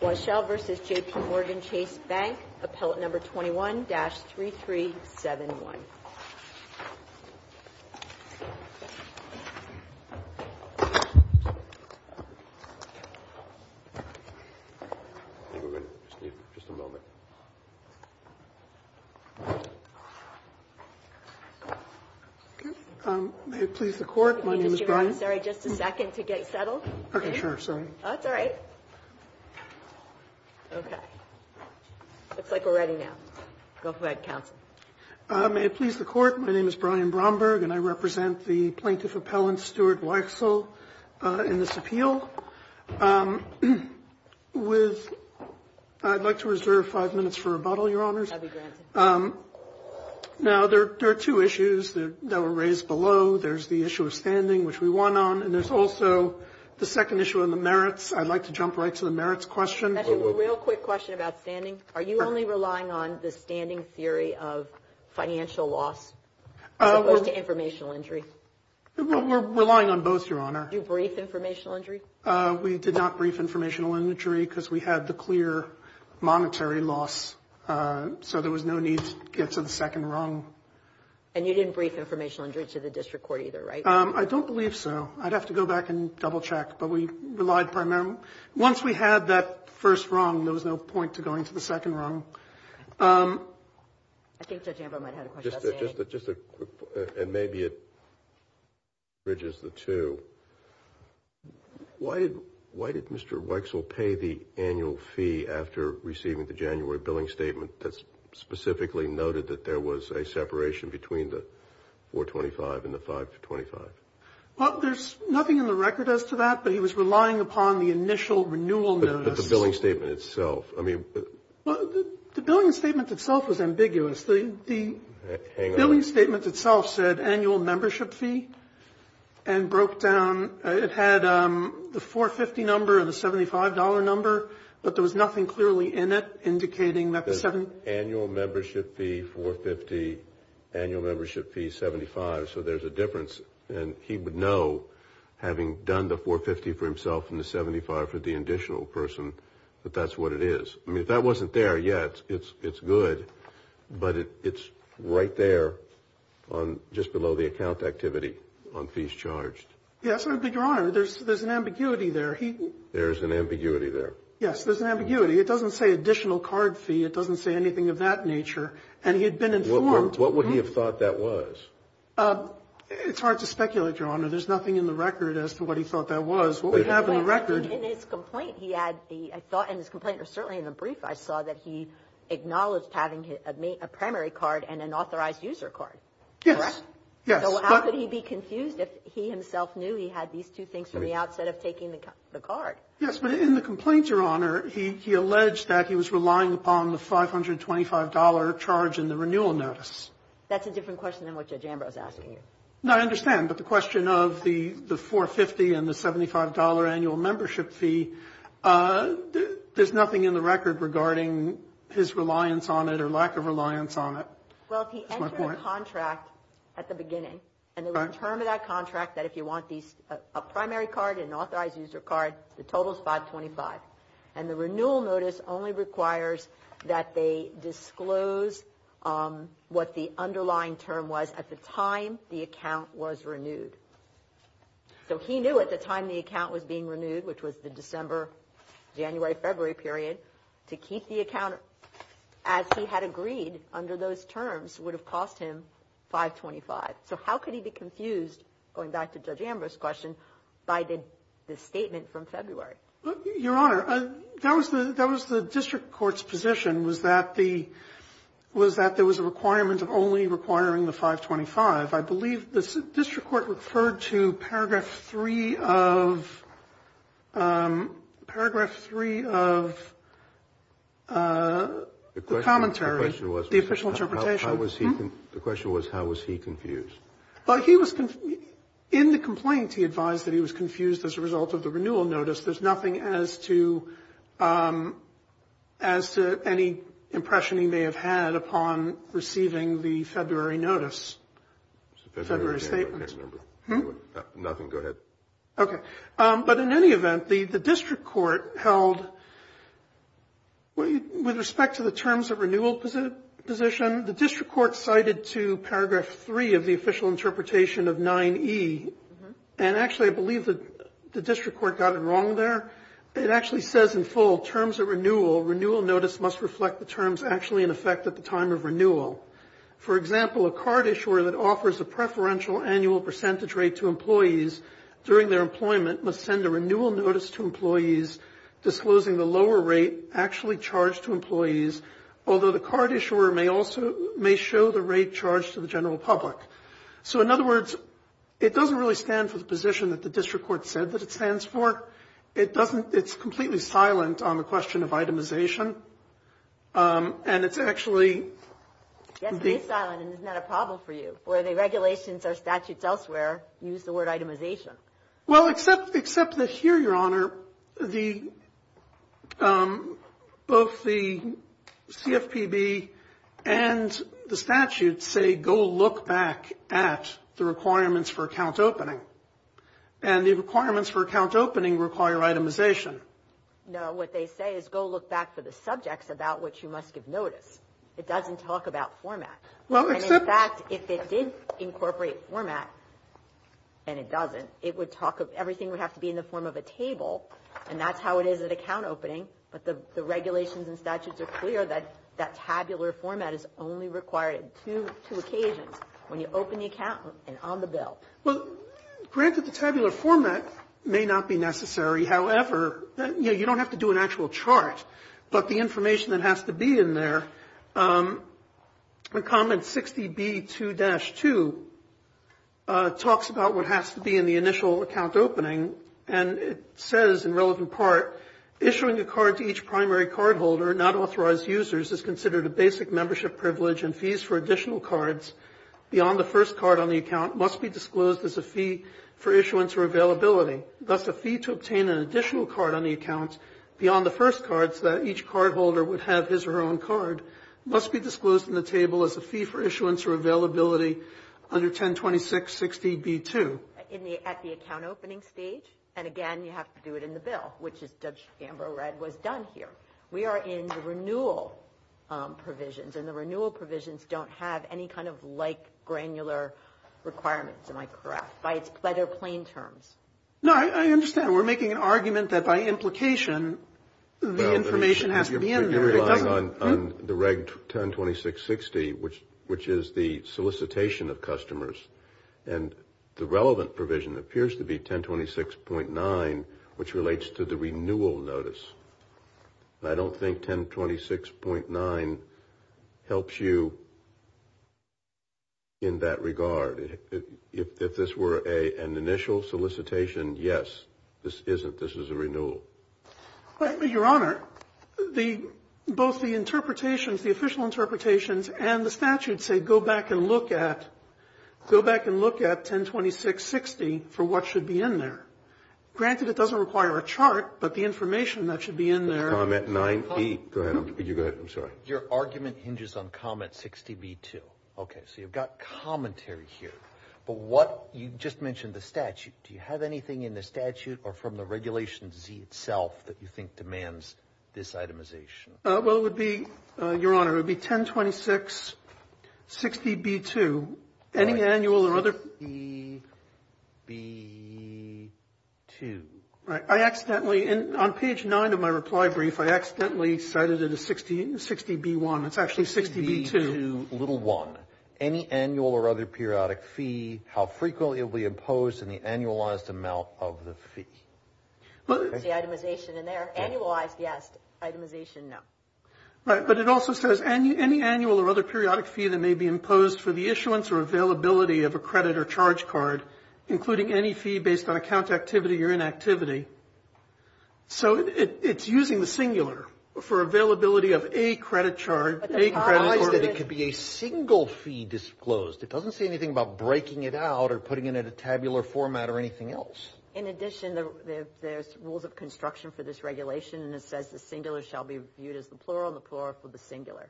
Weichsel v. JP Morgan Chase Bank, Appellate No. 21-3371. I think we're going to just need just a moment. May it please the Court, my name is Brian Bromberg and I represent the plaintiff appellant, Stuart Weichsel, in this appeal. With – I'd like to reserve five minutes for rebuttal, Your Honors. Now, there are two issues that were raised below. There's the issue of standing, which we won on. And there's also the second issue on the merits. I'd like to jump right to the merits question. We're relying on both, Your Honor. So there was no need to get to the second rung. I don't believe so. I'd have to go back and double check, but we relied primarily – once we had that first rung, there was no point to going to the second rung. I think Judge Amber might have a question. Just a quick – and maybe it bridges the two. Why did Mr. Weichsel pay the annual fee after receiving the January billing statement that specifically noted that there was a separation between the 425 and the 525? Well, there's nothing in the record as to that, but he was relying upon the initial renewal notice. What about the billing statement itself? The billing statement itself was ambiguous. The billing statement itself said annual membership fee and broke down. It had the 450 number and the $75 number, but there was nothing clearly in it indicating that the – Annual membership fee, 450. Annual membership fee, 75. So there's a difference, and he would know, having done the 450 for himself and the 75 for the additional person, that that's what it is. I mean, if that wasn't there yet, it's good, but it's right there on – just below the account activity on fees charged. Yes, but, Your Honor, there's an ambiguity there. There's an ambiguity there. Yes, there's an ambiguity. It doesn't say additional card fee. It doesn't say anything of that nature. And he had been informed. What would he have thought that was? It's hard to speculate, Your Honor. There's nothing in the record as to what he thought that was. In his complaint, he had the – I thought in his complaint, or certainly in the brief I saw, that he acknowledged having a primary card and an authorized user card. Correct? Yes. Yes, but in the complaint, Your Honor, he alleged that he was relying upon the $525 charge in the renewal notice. That's a different question than what Judge Ambrose is asking you. The $525 annual membership fee, there's nothing in the record regarding his reliance on it or lack of reliance on it. Well, he entered a contract at the beginning, and there was a term in that contract that if you want a primary card and an authorized user card, the total is 525. And the renewal notice only requires that they disclose what the underlying term was at the time the account was renewed. So he knew at the time the account was being renewed, which was the December, January, February period, to keep the account as he had agreed under those terms would have cost him 525. So how could he be confused, going back to Judge Ambrose's question, by the statement from February? Your Honor, that was the district court's position, was that there was a requirement of only requiring the 525. I believe the district court referred to paragraph 3 of the commentary, the official interpretation. The question was, how was he confused? In the complaint, he advised that he was confused as a result of the renewal notice. There's nothing as to any impression he may have had upon receiving the February notice, February statement. But in any event, the district court held, with respect to the terms of renewal position, the district court cited to paragraph 3 of the official interpretation of 9E. And actually, I believe the district court got it wrong there. It actually says in full, terms of renewal, renewal notice must reflect the terms actually in effect at the time of renewal. For example, a card issuer that offers a preferential annual percentage rate to employees during their employment must send a renewal notice to employees, disclosing the lower rate actually charged to employees, although the card issuer may also show the rate charged to the general public. So in other words, it doesn't really stand for the position that the district court said that it stands for. It doesn't – it's completely silent on the question of itemization. And it's actually the – Yes, it is silent, and it's not a problem for you, for the regulations or statutes elsewhere use the word itemization. Well, except that here, Your Honor, the – both the CFPB and the statutes say, go look back at the requirements for account opening, and the requirements for account opening require itemization. No, what they say is go look back for the subjects about which you must give notice. It doesn't talk about format. And in fact, if it did incorporate format, and it doesn't, it would talk – everything would have to be in the form of a table, and that's how it is at account opening. But the regulations and statutes are clear that that tabular format is only required on two occasions, when you open the account and on the bill. Well, granted, the tabular format may not be necessary. However, you know, you don't have to do an actual chart. But the information that has to be in there, in comment 60B2-2, talks about what has to be in the initial account opening. And it says, in relevant part, issuing a card to each primary cardholder, not authorized users, is considered a basic membership privilege, and fees for additional cards beyond the first card on the account must be disclosed as a fee for issuance or availability. Thus, a fee to obtain an additional card on the account beyond the first card, so that each cardholder would have his or her own card, must be disclosed in the table as a fee for issuance or availability under 1026-60B2. At the account opening stage, and again, you have to do it in the bill, which as Judge Gambrow read, was done here. We are in the renewal provisions, and the renewal provisions don't have any kind of like granular requirements, am I correct, by their plain terms? No, I understand. We're making an argument that by implication, the information has to be in there. You're relying on the reg 1026-60, which is the solicitation of customers, and the relevant provision appears to be 1026.9, which relates to the renewal notice. I don't think 1026.9 helps you in that regard. If this were an initial solicitation, yes, this isn't. This is a renewal. Your Honor, both the interpretations, the official interpretations, and the statute say, go back and look at, go back and look at 1026-60 for what should be in there. Granted, it doesn't require a chart, but the information that should be in there. Comment 9B. Go ahead. I'm sorry. Your argument hinges on comment 60B2. Okay. So you've got commentary here, but what you just mentioned the statute. Do you have anything in the statute or from the Regulation Z itself that you think demands this itemization? Well, it would be, Your Honor, it would be 1026-60B2. Any annual or other? 60B2. Right. I accidentally, on page 9 of my reply brief, I accidentally cited it as 60B1. It's actually 60B2. 60B2. Little one. Any annual or other periodic fee, how frequently it will be imposed, and the annualized amount of the fee. Is the itemization in there? Annualized, yes. Itemization, no. Right, but it also says any annual or other periodic fee that may be imposed for the issuance or availability of a credit or charge card, including any fee based on account activity or inactivity. So it's using the singular for availability of a credit charge. It implies that it could be a single fee disclosed. It doesn't say anything about breaking it out or putting it in a tabular format or anything else. In addition, there's rules of construction for this regulation, and it says the singular shall be viewed as the plural and the plural for the singular,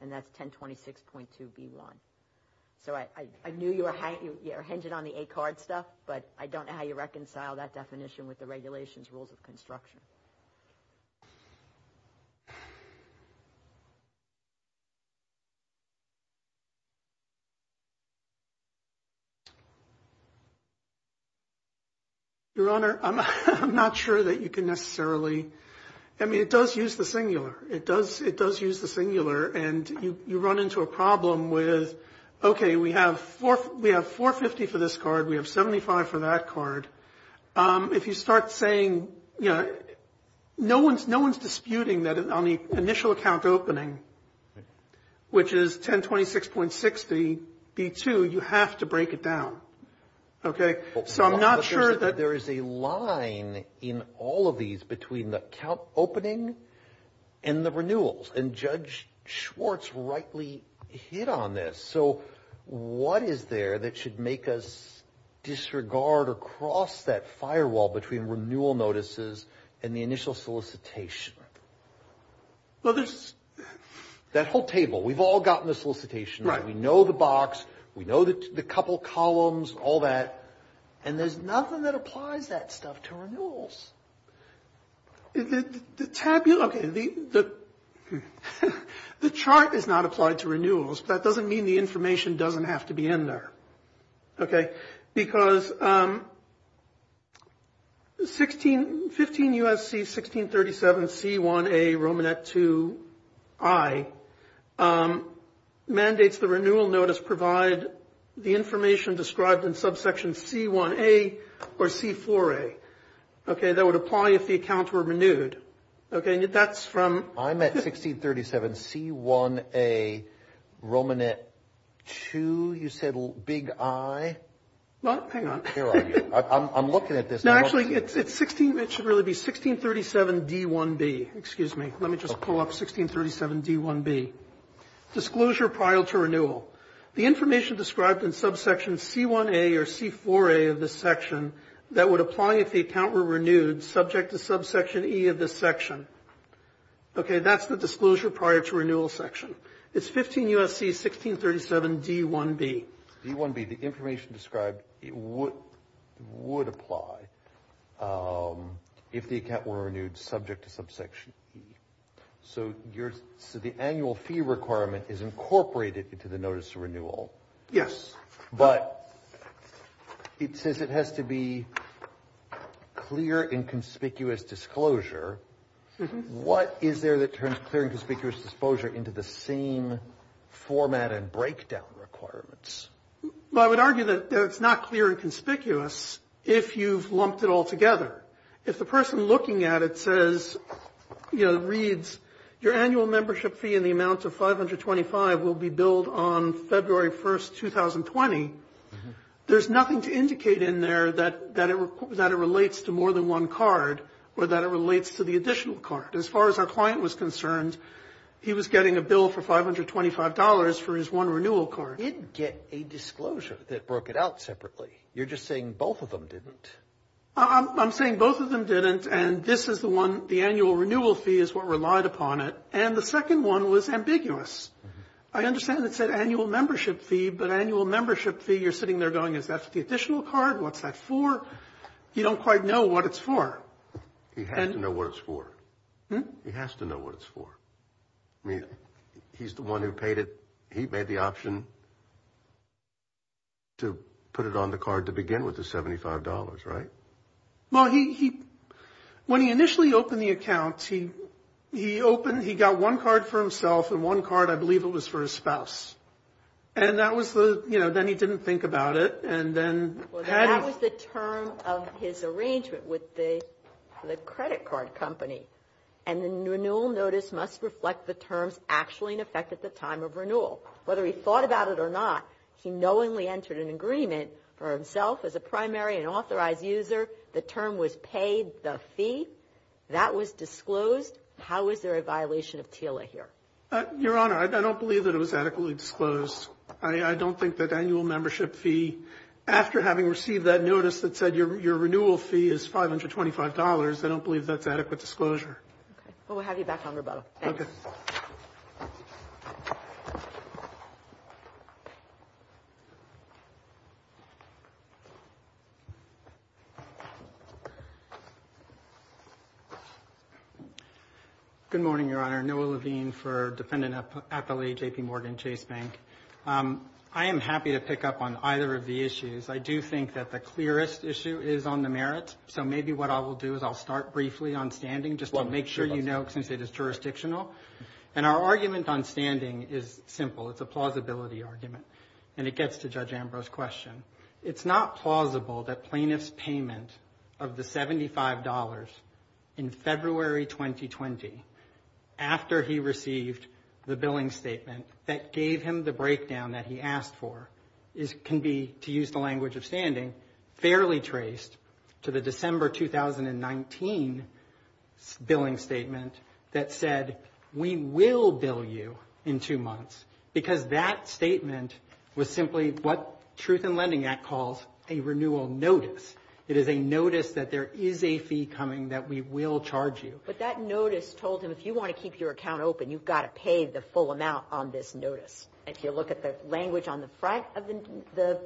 and that's 1026.2B1. So I knew you were hinging on the A card stuff, but I don't know how you reconcile that definition with the regulations rules of construction. Your Honor, I'm not sure that you can necessarily. I mean, it does use the singular. It does use the singular, and you run into a problem with, okay, we have 450 for this card. We have 75 for that card. If you start saying, you know, no one's disputing that on the initial account opening, which is 1026.6B2, you have to break it down. Okay? So I'm not sure that. There is a line in all of these between the account opening and the renewals, and Judge Schwartz rightly hit on this. So what is there that should make us disregard or cross that firewall between renewal notices and the initial solicitation? Well, there's. That whole table. We've all gotten the solicitation. Right. We know the box. We know the couple columns, all that. And there's nothing that applies that stuff to renewals. Okay. The chart is not applied to renewals. That doesn't mean the information doesn't have to be in there. Okay? Because 15 U.S.C. 1637 C1A Romanet II I mandates the renewal notice provide the information described in subsection C1A or C4A. Okay? That would apply if the accounts were renewed. Okay? That's from. I'm at 1637 C1A Romanet II. You said big I. Well, hang on. Here I am. I'm looking at this. No, actually, it's 16. It should really be 1637 D1B. Excuse me. Let me just pull up 1637 D1B. Disclosure prior to renewal. The information described in subsection C1A or C4A of this section that would apply if the account were renewed subject to subsection E of this section. Okay, that's the disclosure prior to renewal section. It's 15 U.S.C. 1637 D1B. D1B, the information described would apply if the account were renewed subject to subsection E. So the annual fee requirement is incorporated into the notice of renewal. Yes. But it says it has to be clear and conspicuous disclosure. What is there that turns clear and conspicuous disclosure into the same format and breakdown requirements? Well, I would argue that it's not clear and conspicuous if you've lumped it all together. If the person looking at it says, you know, reads your annual membership fee in the amount of 525 will be billed on February 1st, 2020, there's nothing to indicate in there that it relates to more than one card or that it relates to the additional card. As far as our client was concerned, he was getting a bill for $525 for his one renewal card. He did get a disclosure that broke it out separately. You're just saying both of them didn't. I'm saying both of them didn't, and this is the one, the annual renewal fee is what relied upon it. And the second one was ambiguous. I understand it said annual membership fee, but annual membership fee, you're sitting there going, is that the additional card? What's that for? You don't quite know what it's for. He has to know what it's for. He has to know what it's for. I mean, he's the one who paid it. He made the option to put it on the card to begin with the $75, right? Well, he, when he initially opened the account, he opened, he got one card for himself and one card, I believe it was for his spouse. And that was the, you know, then he didn't think about it, and then. That was the term of his arrangement with the credit card company. And the renewal notice must reflect the terms actually in effect at the time of renewal. Whether he thought about it or not, he knowingly entered an agreement for himself as a primary and authorized user. The term was paid, the fee. That was disclosed. How is there a violation of TILA here? Your Honor, I don't believe that it was adequately disclosed. I don't think that annual membership fee, after having received that notice that said your renewal fee is $525, I don't believe that's adequate disclosure. Okay. Well, we'll have you back on rebuttal. Okay. Good morning, Your Honor. Noah Levine for Defendant Athlete JPMorgan Chase Bank. I am happy to pick up on either of the issues. I do think that the clearest issue is on the merit. So maybe what I will do is I'll start briefly on standing just to make sure you know since it is jurisdictional. And our argument on standing is simple. It's a plausibility argument. And it gets to Judge Ambrose's question. It's not plausible that plaintiff's payment of the $75 in February 2020, after he received the billing statement that gave him the breakdown that he asked for, can be, to use the language of standing, fairly traced to the December 2019 billing statement that said we will bill you in two months. Because that statement was simply what Truth in Lending Act calls a renewal notice. It is a notice that there is a fee coming that we will charge you. But that notice told him if you want to keep your account open, you've got to pay the full amount on this notice. If you look at the language on the front of the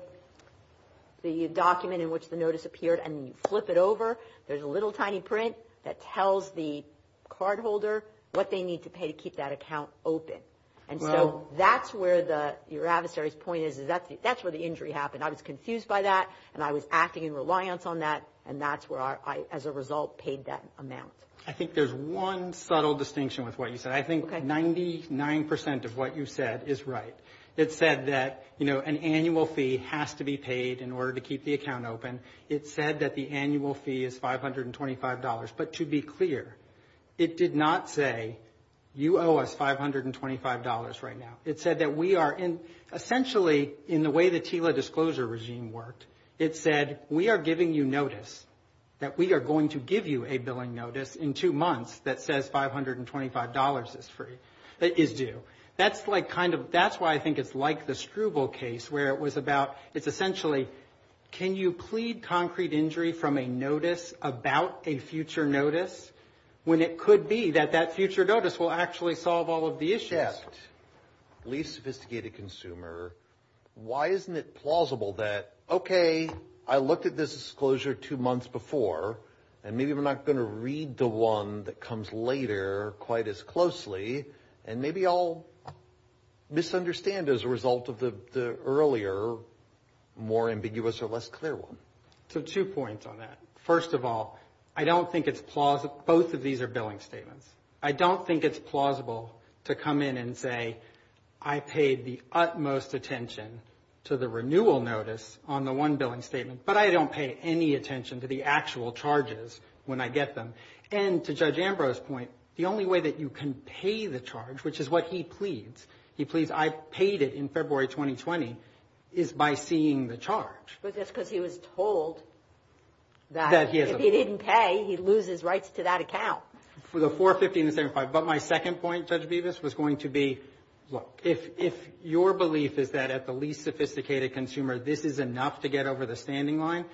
document in which the notice appeared and you flip it over, there's a little tiny print that tells the cardholder what they need to pay to keep that account open. And so that's where your adversary's point is. That's where the injury happened. I was confused by that, and I was acting in reliance on that. And that's where I, as a result, paid that amount. I think there's one subtle distinction with what you said. I think 99% of what you said is right. It said that, you know, an annual fee has to be paid in order to keep the account open. It said that the annual fee is $525. But to be clear, it did not say you owe us $525 right now. It said that we are in, essentially, in the way the TILA disclosure regime worked, it said we are giving you notice, that we are going to give you a billing notice in two months that says $525 is free, is due. That's like kind of, that's why I think it's like the Struble case where it was about, it's essentially, can you plead concrete injury from a notice about a future notice, when it could be that that future notice will actually solve all of the issues? As a deft, least sophisticated consumer, why isn't it plausible that, okay, I looked at this disclosure two months before, and maybe I'm not going to read the one that comes later quite as closely, and maybe I'll misunderstand as a result of the earlier, more ambiguous or less clear one? So two points on that. First of all, I don't think it's plausible, both of these are billing statements. I don't think it's plausible to come in and say, I paid the utmost attention to the renewal notice on the one billing statement, but I don't pay any attention to the actual charges when I get them. And to Judge Ambrose's point, the only way that you can pay the charge, which is what he pleads, he pleads I paid it in February 2020, is by seeing the charge. But that's because he was told that if he didn't pay, he'd lose his rights to that account. For the 450 and the 75. But my second point, Judge Bevis, was going to be, look, if your belief is that at the least sophisticated consumer, this is enough to get over the standing line,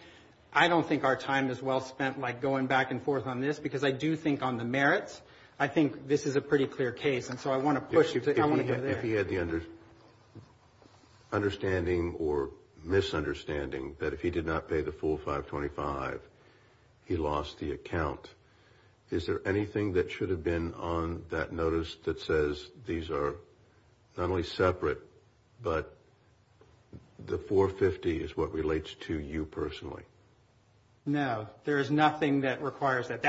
I don't think our time is well spent like going back and forth on this, because I do think on the merits, I think this is a pretty clear case. And so I want to push it. If he had the understanding or misunderstanding that if he did not pay the full 525, he lost the account, is there anything that should have been on that notice that says these are not only separate, but the 450 is what relates to you personally? No, there is nothing that requires that.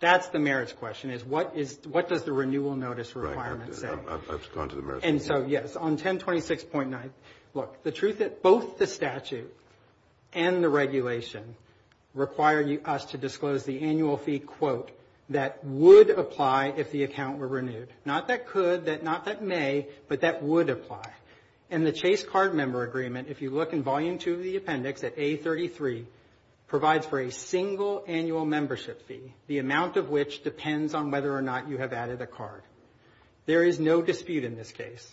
That's the merits question, is what does the renewal notice requirement say? I've gone to the merits. And so, yes, on 1026.9, look, the truth is, both the statute and the regulation require us to disclose the annual fee, quote, that would apply if the account were renewed. Not that could, not that may, but that would apply. And the Chase card member agreement, if you look in volume two of the appendix at A33, provides for a single annual membership fee, the amount of which depends on whether or not you have added a card. There is no dispute in this case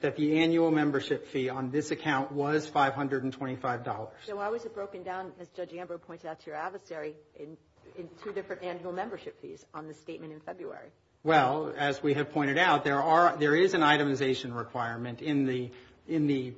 that the annual membership fee on this account was $525. So why was it broken down, as Judge Amber pointed out to your adversary, in two different annual membership fees on the statement in February? Well, as we have pointed out, there is an itemization requirement in the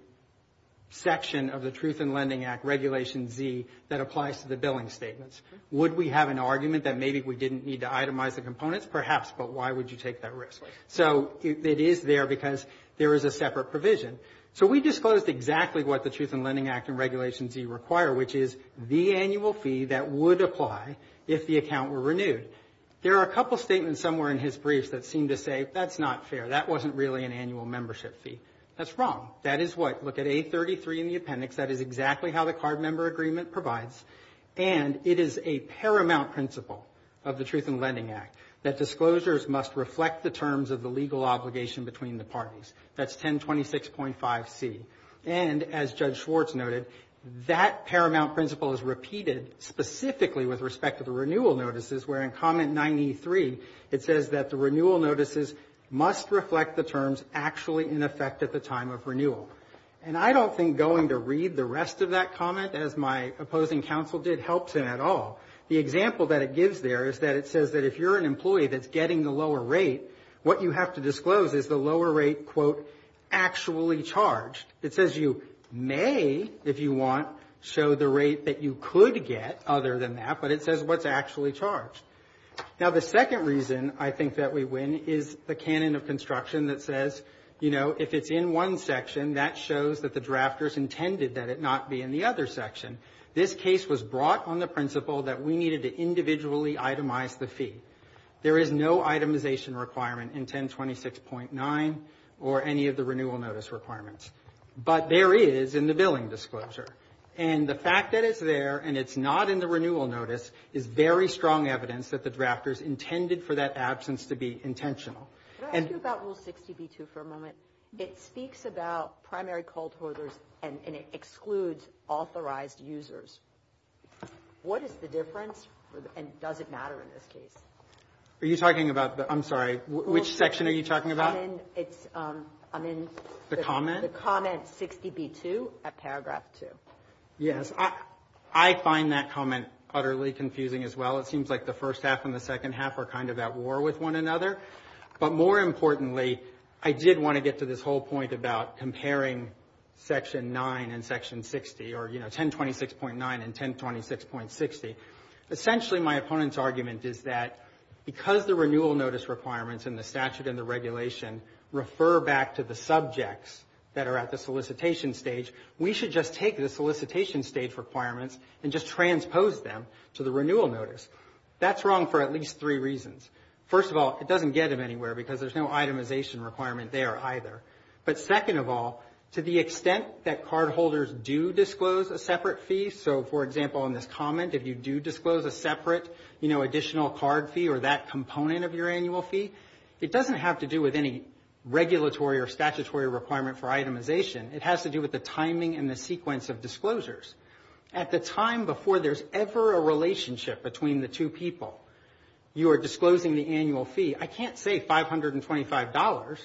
section of the Truth in Lending Act, Regulation Z, that applies to the billing statements. Would we have an argument that maybe we didn't need to itemize the components? Yes, perhaps, but why would you take that risk? So it is there because there is a separate provision. So we disclosed exactly what the Truth in Lending Act and Regulation Z require, which is the annual fee that would apply if the account were renewed. There are a couple statements somewhere in his briefs that seem to say, that's not fair, that wasn't really an annual membership fee. That's wrong. That is what, look at A33 in the appendix, that is exactly how the card member agreement provides, and it is a paramount principle of the Truth in Lending Act that disclosures must reflect the terms of the legal obligation between the parties. That's 1026.5C. And, as Judge Schwartz noted, that paramount principle is repeated specifically with respect to the renewal notices, where in Comment 93, it says that the renewal notices must reflect the terms actually in effect at the time of renewal. And I don't think going to read the rest of that comment, as my opposing counsel did, helps him at all. The example that it gives there is that it says that if you're an employee that's getting the lower rate, what you have to disclose is the lower rate, quote, actually charged. It says you may, if you want, show the rate that you could get other than that, but it says what's actually charged. Now, the second reason I think that we win is the canon of construction that says, you know, if it's in one section, that shows that the drafters intended that it not be in the other section. This case was brought on the principle that we needed to individually itemize the fee. There is no itemization requirement in 1026.9 or any of the renewal notice requirements. But there is in the billing disclosure. And the fact that it's there and it's not in the renewal notice is very strong evidence that the drafters intended for that absence to be intentional. Can I ask you about Rule 60b-2 for a moment? It speaks about primary cold hoarders and it excludes authorized users. What is the difference and does it matter in this case? Are you talking about the, I'm sorry, which section are you talking about? I mean, it's, I mean. The comment? The comment 60b-2 at paragraph 2. Yes, I find that comment utterly confusing as well. It seems like the first half and the second half are kind of at war with one another. But more importantly, I did want to get to this whole point about comparing section 9 and section 60 or, you know, 1026.9 and 1026.60. Essentially, my opponent's argument is that because the renewal notice requirements in the statute and the regulation refer back to the subjects that are at the solicitation stage, we should just take the solicitation stage requirements and just transpose them to the renewal notice. That's wrong for at least three reasons. First of all, it doesn't get them anywhere because there's no itemization requirement there either. But second of all, to the extent that cardholders do disclose a separate fee, so, for example, in this comment, if you do disclose a separate, you know, additional card fee or that component of your annual fee, it doesn't have to do with any regulatory or statutory requirement for itemization. It has to do with the timing and the sequence of disclosures. At the time before there's ever a relationship between the two people, you are disclosing the annual fee. I can't say $525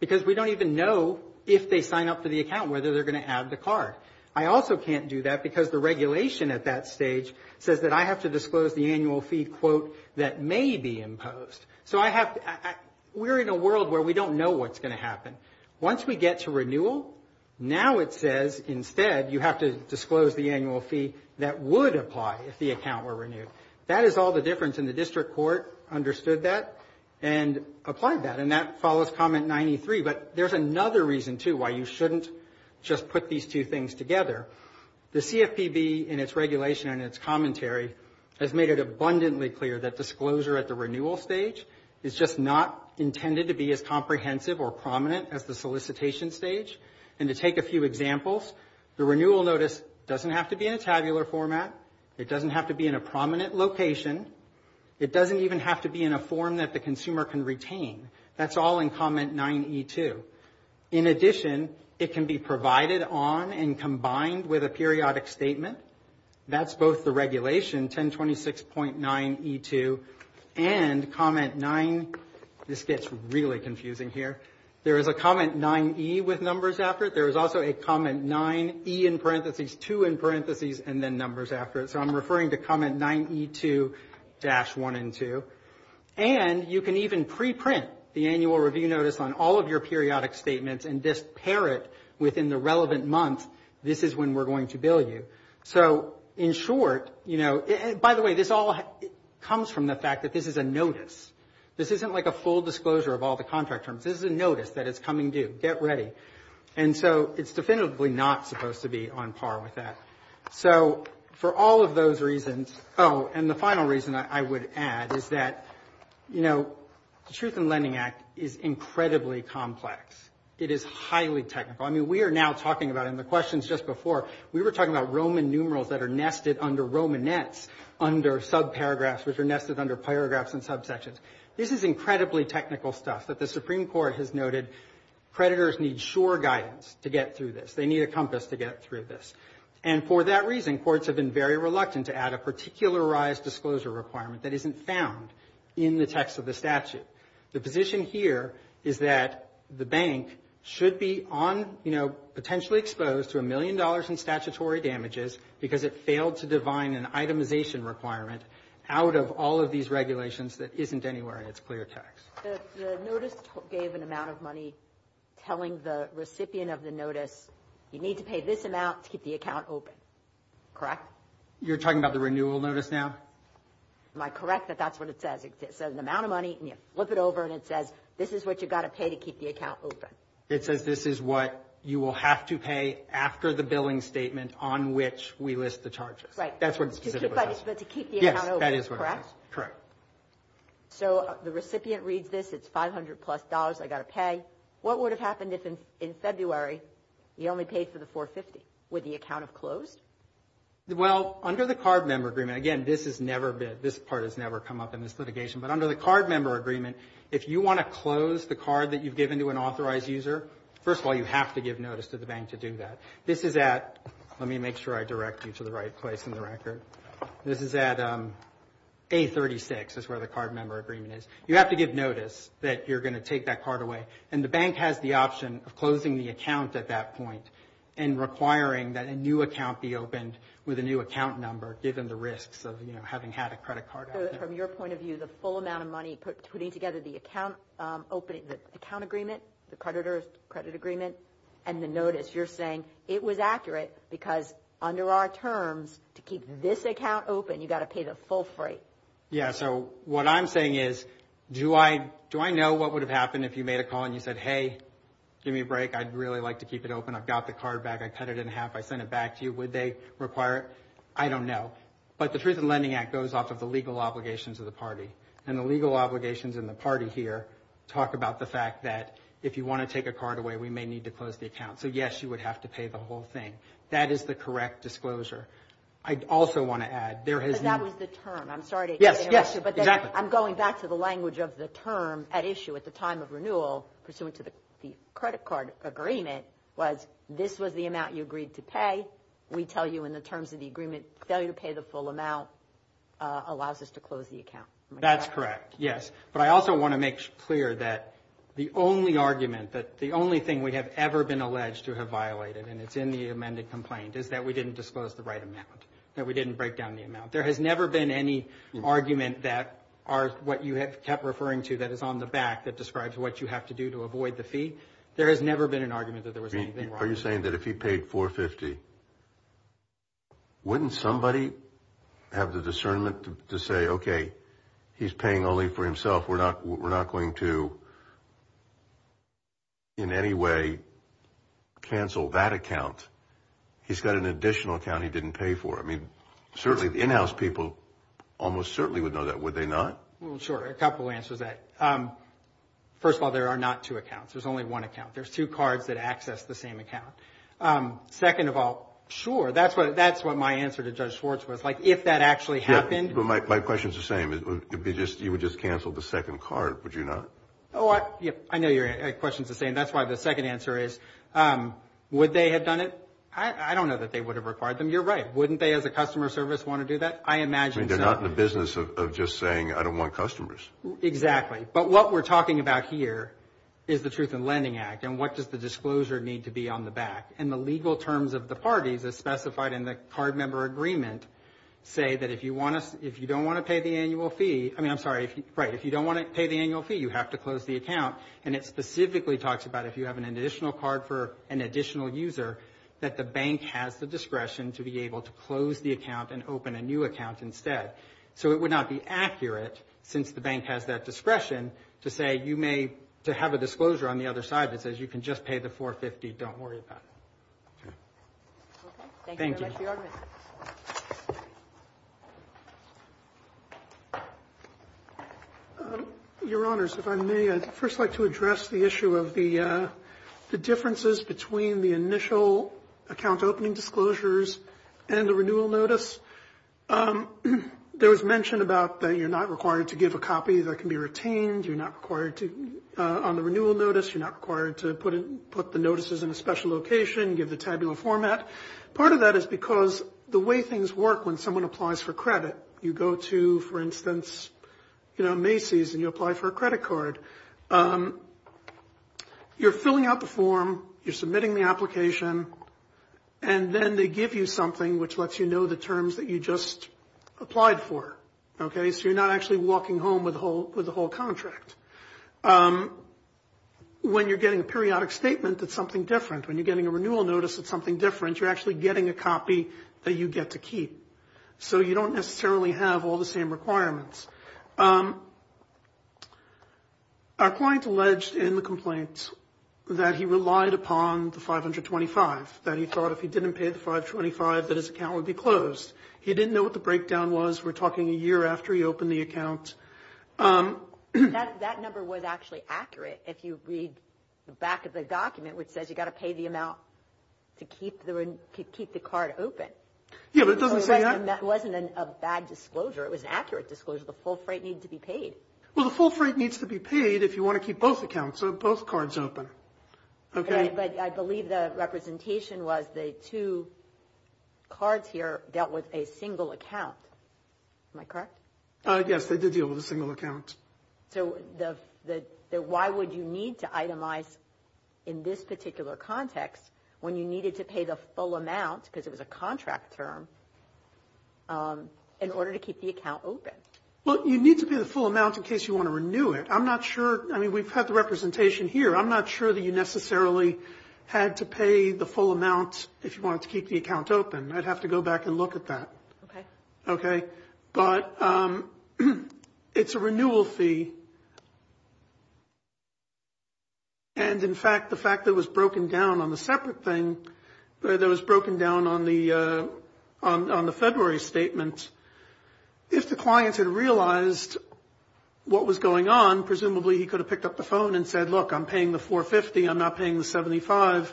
because we don't even know if they sign up for the account whether they're going to add the card. I also can't do that because the regulation at that stage says that I have to disclose the annual fee, quote, that may be imposed. So I have to – we're in a world where we don't know what's going to happen. Once we get to renewal, now it says instead you have to disclose the annual fee that would apply if the account were renewed. That is all the difference, and the district court understood that and applied that, and that follows Comment 93. But there's another reason, too, why you shouldn't just put these two things together. The CFPB in its regulation and its commentary has made it abundantly clear that disclosure at the renewal stage is just not intended to be as comprehensive or prominent as the solicitation stage. And to take a few examples, the renewal notice doesn't have to be in a tabular format. It doesn't have to be in a prominent location. It doesn't even have to be in a form that the consumer can retain. That's all in Comment 9E2. In addition, it can be provided on and combined with a periodic statement. That's both the regulation, 1026.9E2, and Comment 9 – this gets really confusing here. There is a Comment 9E with numbers after it. There is also a Comment 9E in parentheses, 2 in parentheses, and then numbers after it. So I'm referring to Comment 9E2-1 and 2. And you can even preprint the annual review notice on all of your periodic statements and just pair it within the relevant month. This is when we're going to bill you. So in short – by the way, this all comes from the fact that this is a notice. This isn't like a full disclosure of all the contract terms. This is a notice that it's coming due. Get ready. And so it's definitively not supposed to be on par with that. So for all of those reasons – oh, and the final reason I would add is that the Truth in Lending Act is incredibly complex. It is highly technical. I mean, we are now talking about it in the questions just before. We were talking about Roman numerals that are nested under Romanets under subparagraphs, which are nested under paragraphs and subsections. This is incredibly technical stuff that the Supreme Court has noted creditors need sure guidance to get through this. They need a compass to get through this. And for that reason, courts have been very reluctant to add a particularized disclosure requirement that isn't found in the text of the statute. The position here is that the bank should be on, you know, potentially exposed to a million dollars in statutory damages because it failed to define an itemization requirement out of all of these regulations that isn't anywhere in its clear text. The notice gave an amount of money telling the recipient of the notice, you need to pay this amount to keep the account open, correct? You're talking about the renewal notice now? Am I correct that that's what it says? It's an amount of money and you flip it over and it says this is what you've got to pay to keep the account open. It says this is what you will have to pay after the billing statement on which we list the charges. Right. That's what it specifically says. But to keep the account open, correct? Yes, that is what it says, correct. So the recipient reads this, it's $500 plus I've got to pay. What would have happened if in February you only paid for the $450? Would the account have closed? Well, under the card member agreement, again, this has never been, this part has never come up in this litigation, but under the card member agreement, if you want to close the card that you've given to an authorized user, first of all you have to give notice to the bank to do that. This is at, let me make sure I direct you to the right place in the record, this is at A36 is where the card member agreement is. You have to give notice that you're going to take that card away. And the bank has the option of closing the account at that point and requiring that a new account be opened with a new account number, given the risks of having had a credit card. So from your point of view, the full amount of money, putting together the account agreement, the creditor's credit agreement, and the notice, you're saying it was accurate because under our terms, to keep this account open, you've got to pay the full freight. Yeah, so what I'm saying is do I know what would have happened if you made a call and you said, hey, give me a break, I'd really like to keep it open, I've got the card back, I cut it in half, I sent it back to you. Would they require it? I don't know. But the Truth in Lending Act goes off of the legal obligations of the party. And the legal obligations in the party here talk about the fact that if you want to take a card away, we may need to close the account. So, yes, you would have to pay the whole thing. That is the correct disclosure. I also want to add, there has been – But that was the term. I'm sorry to interrupt you. Yes, yes, exactly. But I'm going back to the language of the term at issue at the time of renewal pursuant to the credit card agreement was this was the amount you agreed to pay. We tell you in the terms of the agreement, failure to pay the full amount allows us to close the account. That's correct, yes. But I also want to make clear that the only argument, that the only thing we have ever been alleged to have violated, and it's in the amended complaint, is that we didn't disclose the right amount, that we didn't break down the amount. There has never been any argument that what you have kept referring to that is on the back that describes what you have to do to avoid the fee. There has never been an argument that there was anything wrong. Are you saying that if he paid $450,000, wouldn't somebody have the discernment to say, okay, he's paying only for himself. We're not going to in any way cancel that account. He's got an additional account he didn't pay for. I mean, certainly the in-house people almost certainly would know that, would they not? Well, sure, a couple answers to that. First of all, there are not two accounts. There's only one account. There's two cards that access the same account. Second of all, sure, that's what my answer to Judge Schwartz was. Like, if that actually happened. Yeah, but my question is the same. You would just cancel the second card, would you not? Oh, I know your question is the same. That's why the second answer is, would they have done it? I don't know that they would have required them. You're right. Wouldn't they as a customer service want to do that? I imagine so. They're not in the business of just saying, I don't want customers. Exactly. But what we're talking about here is the Truth in Lending Act. And what does the disclosure need to be on the back? And the legal terms of the parties as specified in the card member agreement say that if you don't want to pay the annual fee, I mean, I'm sorry, right, if you don't want to pay the annual fee, you have to close the account. And it specifically talks about if you have an additional card for an additional user, that the bank has the discretion to be able to close the account and open a new account instead. So it would not be accurate, since the bank has that discretion, to say you may have a disclosure on the other side that says you can just pay the $450. Don't worry about it. Okay. Thank you. Your Honors, if I may, I'd first like to address the issue of the differences between the initial account opening disclosures and the renewal notice. There was mention about that you're not required to give a copy that can be retained. You're not required to, on the renewal notice, you're not required to put the notices in a special location, give the tabular format. Part of that is because the way things work when someone applies for credit, you go to, for instance, you know, Macy's and you apply for a credit card. You're filling out the form, you're submitting the application, and then they give you something which lets you know the terms that you just applied for. Okay? So you're not actually walking home with the whole contract. When you're getting a periodic statement, it's something different. When you're getting a renewal notice, it's something different. You're actually getting a copy that you get to keep. So you don't necessarily have all the same requirements. Our client alleged in the complaint that he relied upon the 525, that he thought if he didn't pay the 525 that his account would be closed. He didn't know what the breakdown was. We're talking a year after he opened the account. That number was actually accurate. If you read the back of the document, which says you've got to pay the amount to keep the card open. Yeah, but it doesn't say that. It wasn't a bad disclosure. It was an accurate disclosure. The full freight needed to be paid. Well, the full freight needs to be paid if you want to keep both accounts, both cards open. Okay? But I believe the representation was the two cards here dealt with a single account. Am I correct? Yes, they did deal with a single account. So why would you need to itemize in this particular context when you needed to pay the full amount, because it was a contract term, in order to keep the account open? Well, you need to pay the full amount in case you want to renew it. I'm not sure. I mean, we've had the representation here. I'm not sure that you necessarily had to pay the full amount if you wanted to keep the account open. I'd have to go back and look at that. Okay. But it's a renewal fee, and, in fact, the fact that it was broken down on the separate thing, that it was broken down on the February statement, if the client had realized what was going on, presumably he could have picked up the phone and said, look, I'm paying the 450. I'm not paying the 75.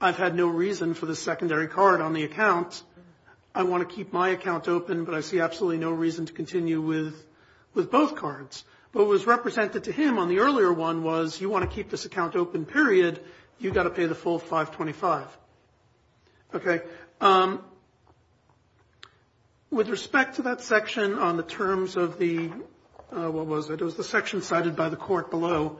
I've had no reason for the secondary card on the account. I want to keep my account open, but I see absolutely no reason to continue with both cards. But what was represented to him on the earlier one was, you want to keep this account open, period. You've got to pay the full 525. Okay. With respect to that section on the terms of the, what was it, it was the section cited by the court below,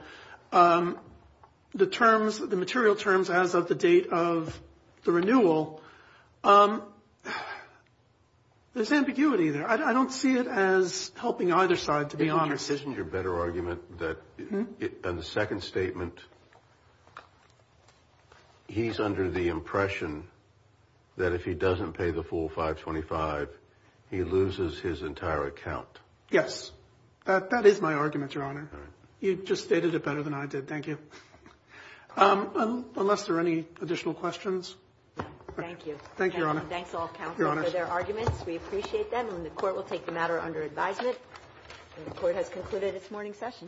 the terms, the material terms as of the date of the renewal, there's ambiguity there. I don't see it as helping either side, to be honest. Isn't your better argument that on the second statement, he's under the impression that if he doesn't pay the full 525, he loses his entire account? Yes. That is my argument, Your Honor. You just stated it better than I did. Thank you. Unless there are any additional questions. Thank you. Thank you, Your Honor. Thanks, all counsel, for their arguments. We appreciate them. And the Court will take the matter under advisement. And the Court has concluded its morning session. Thank you.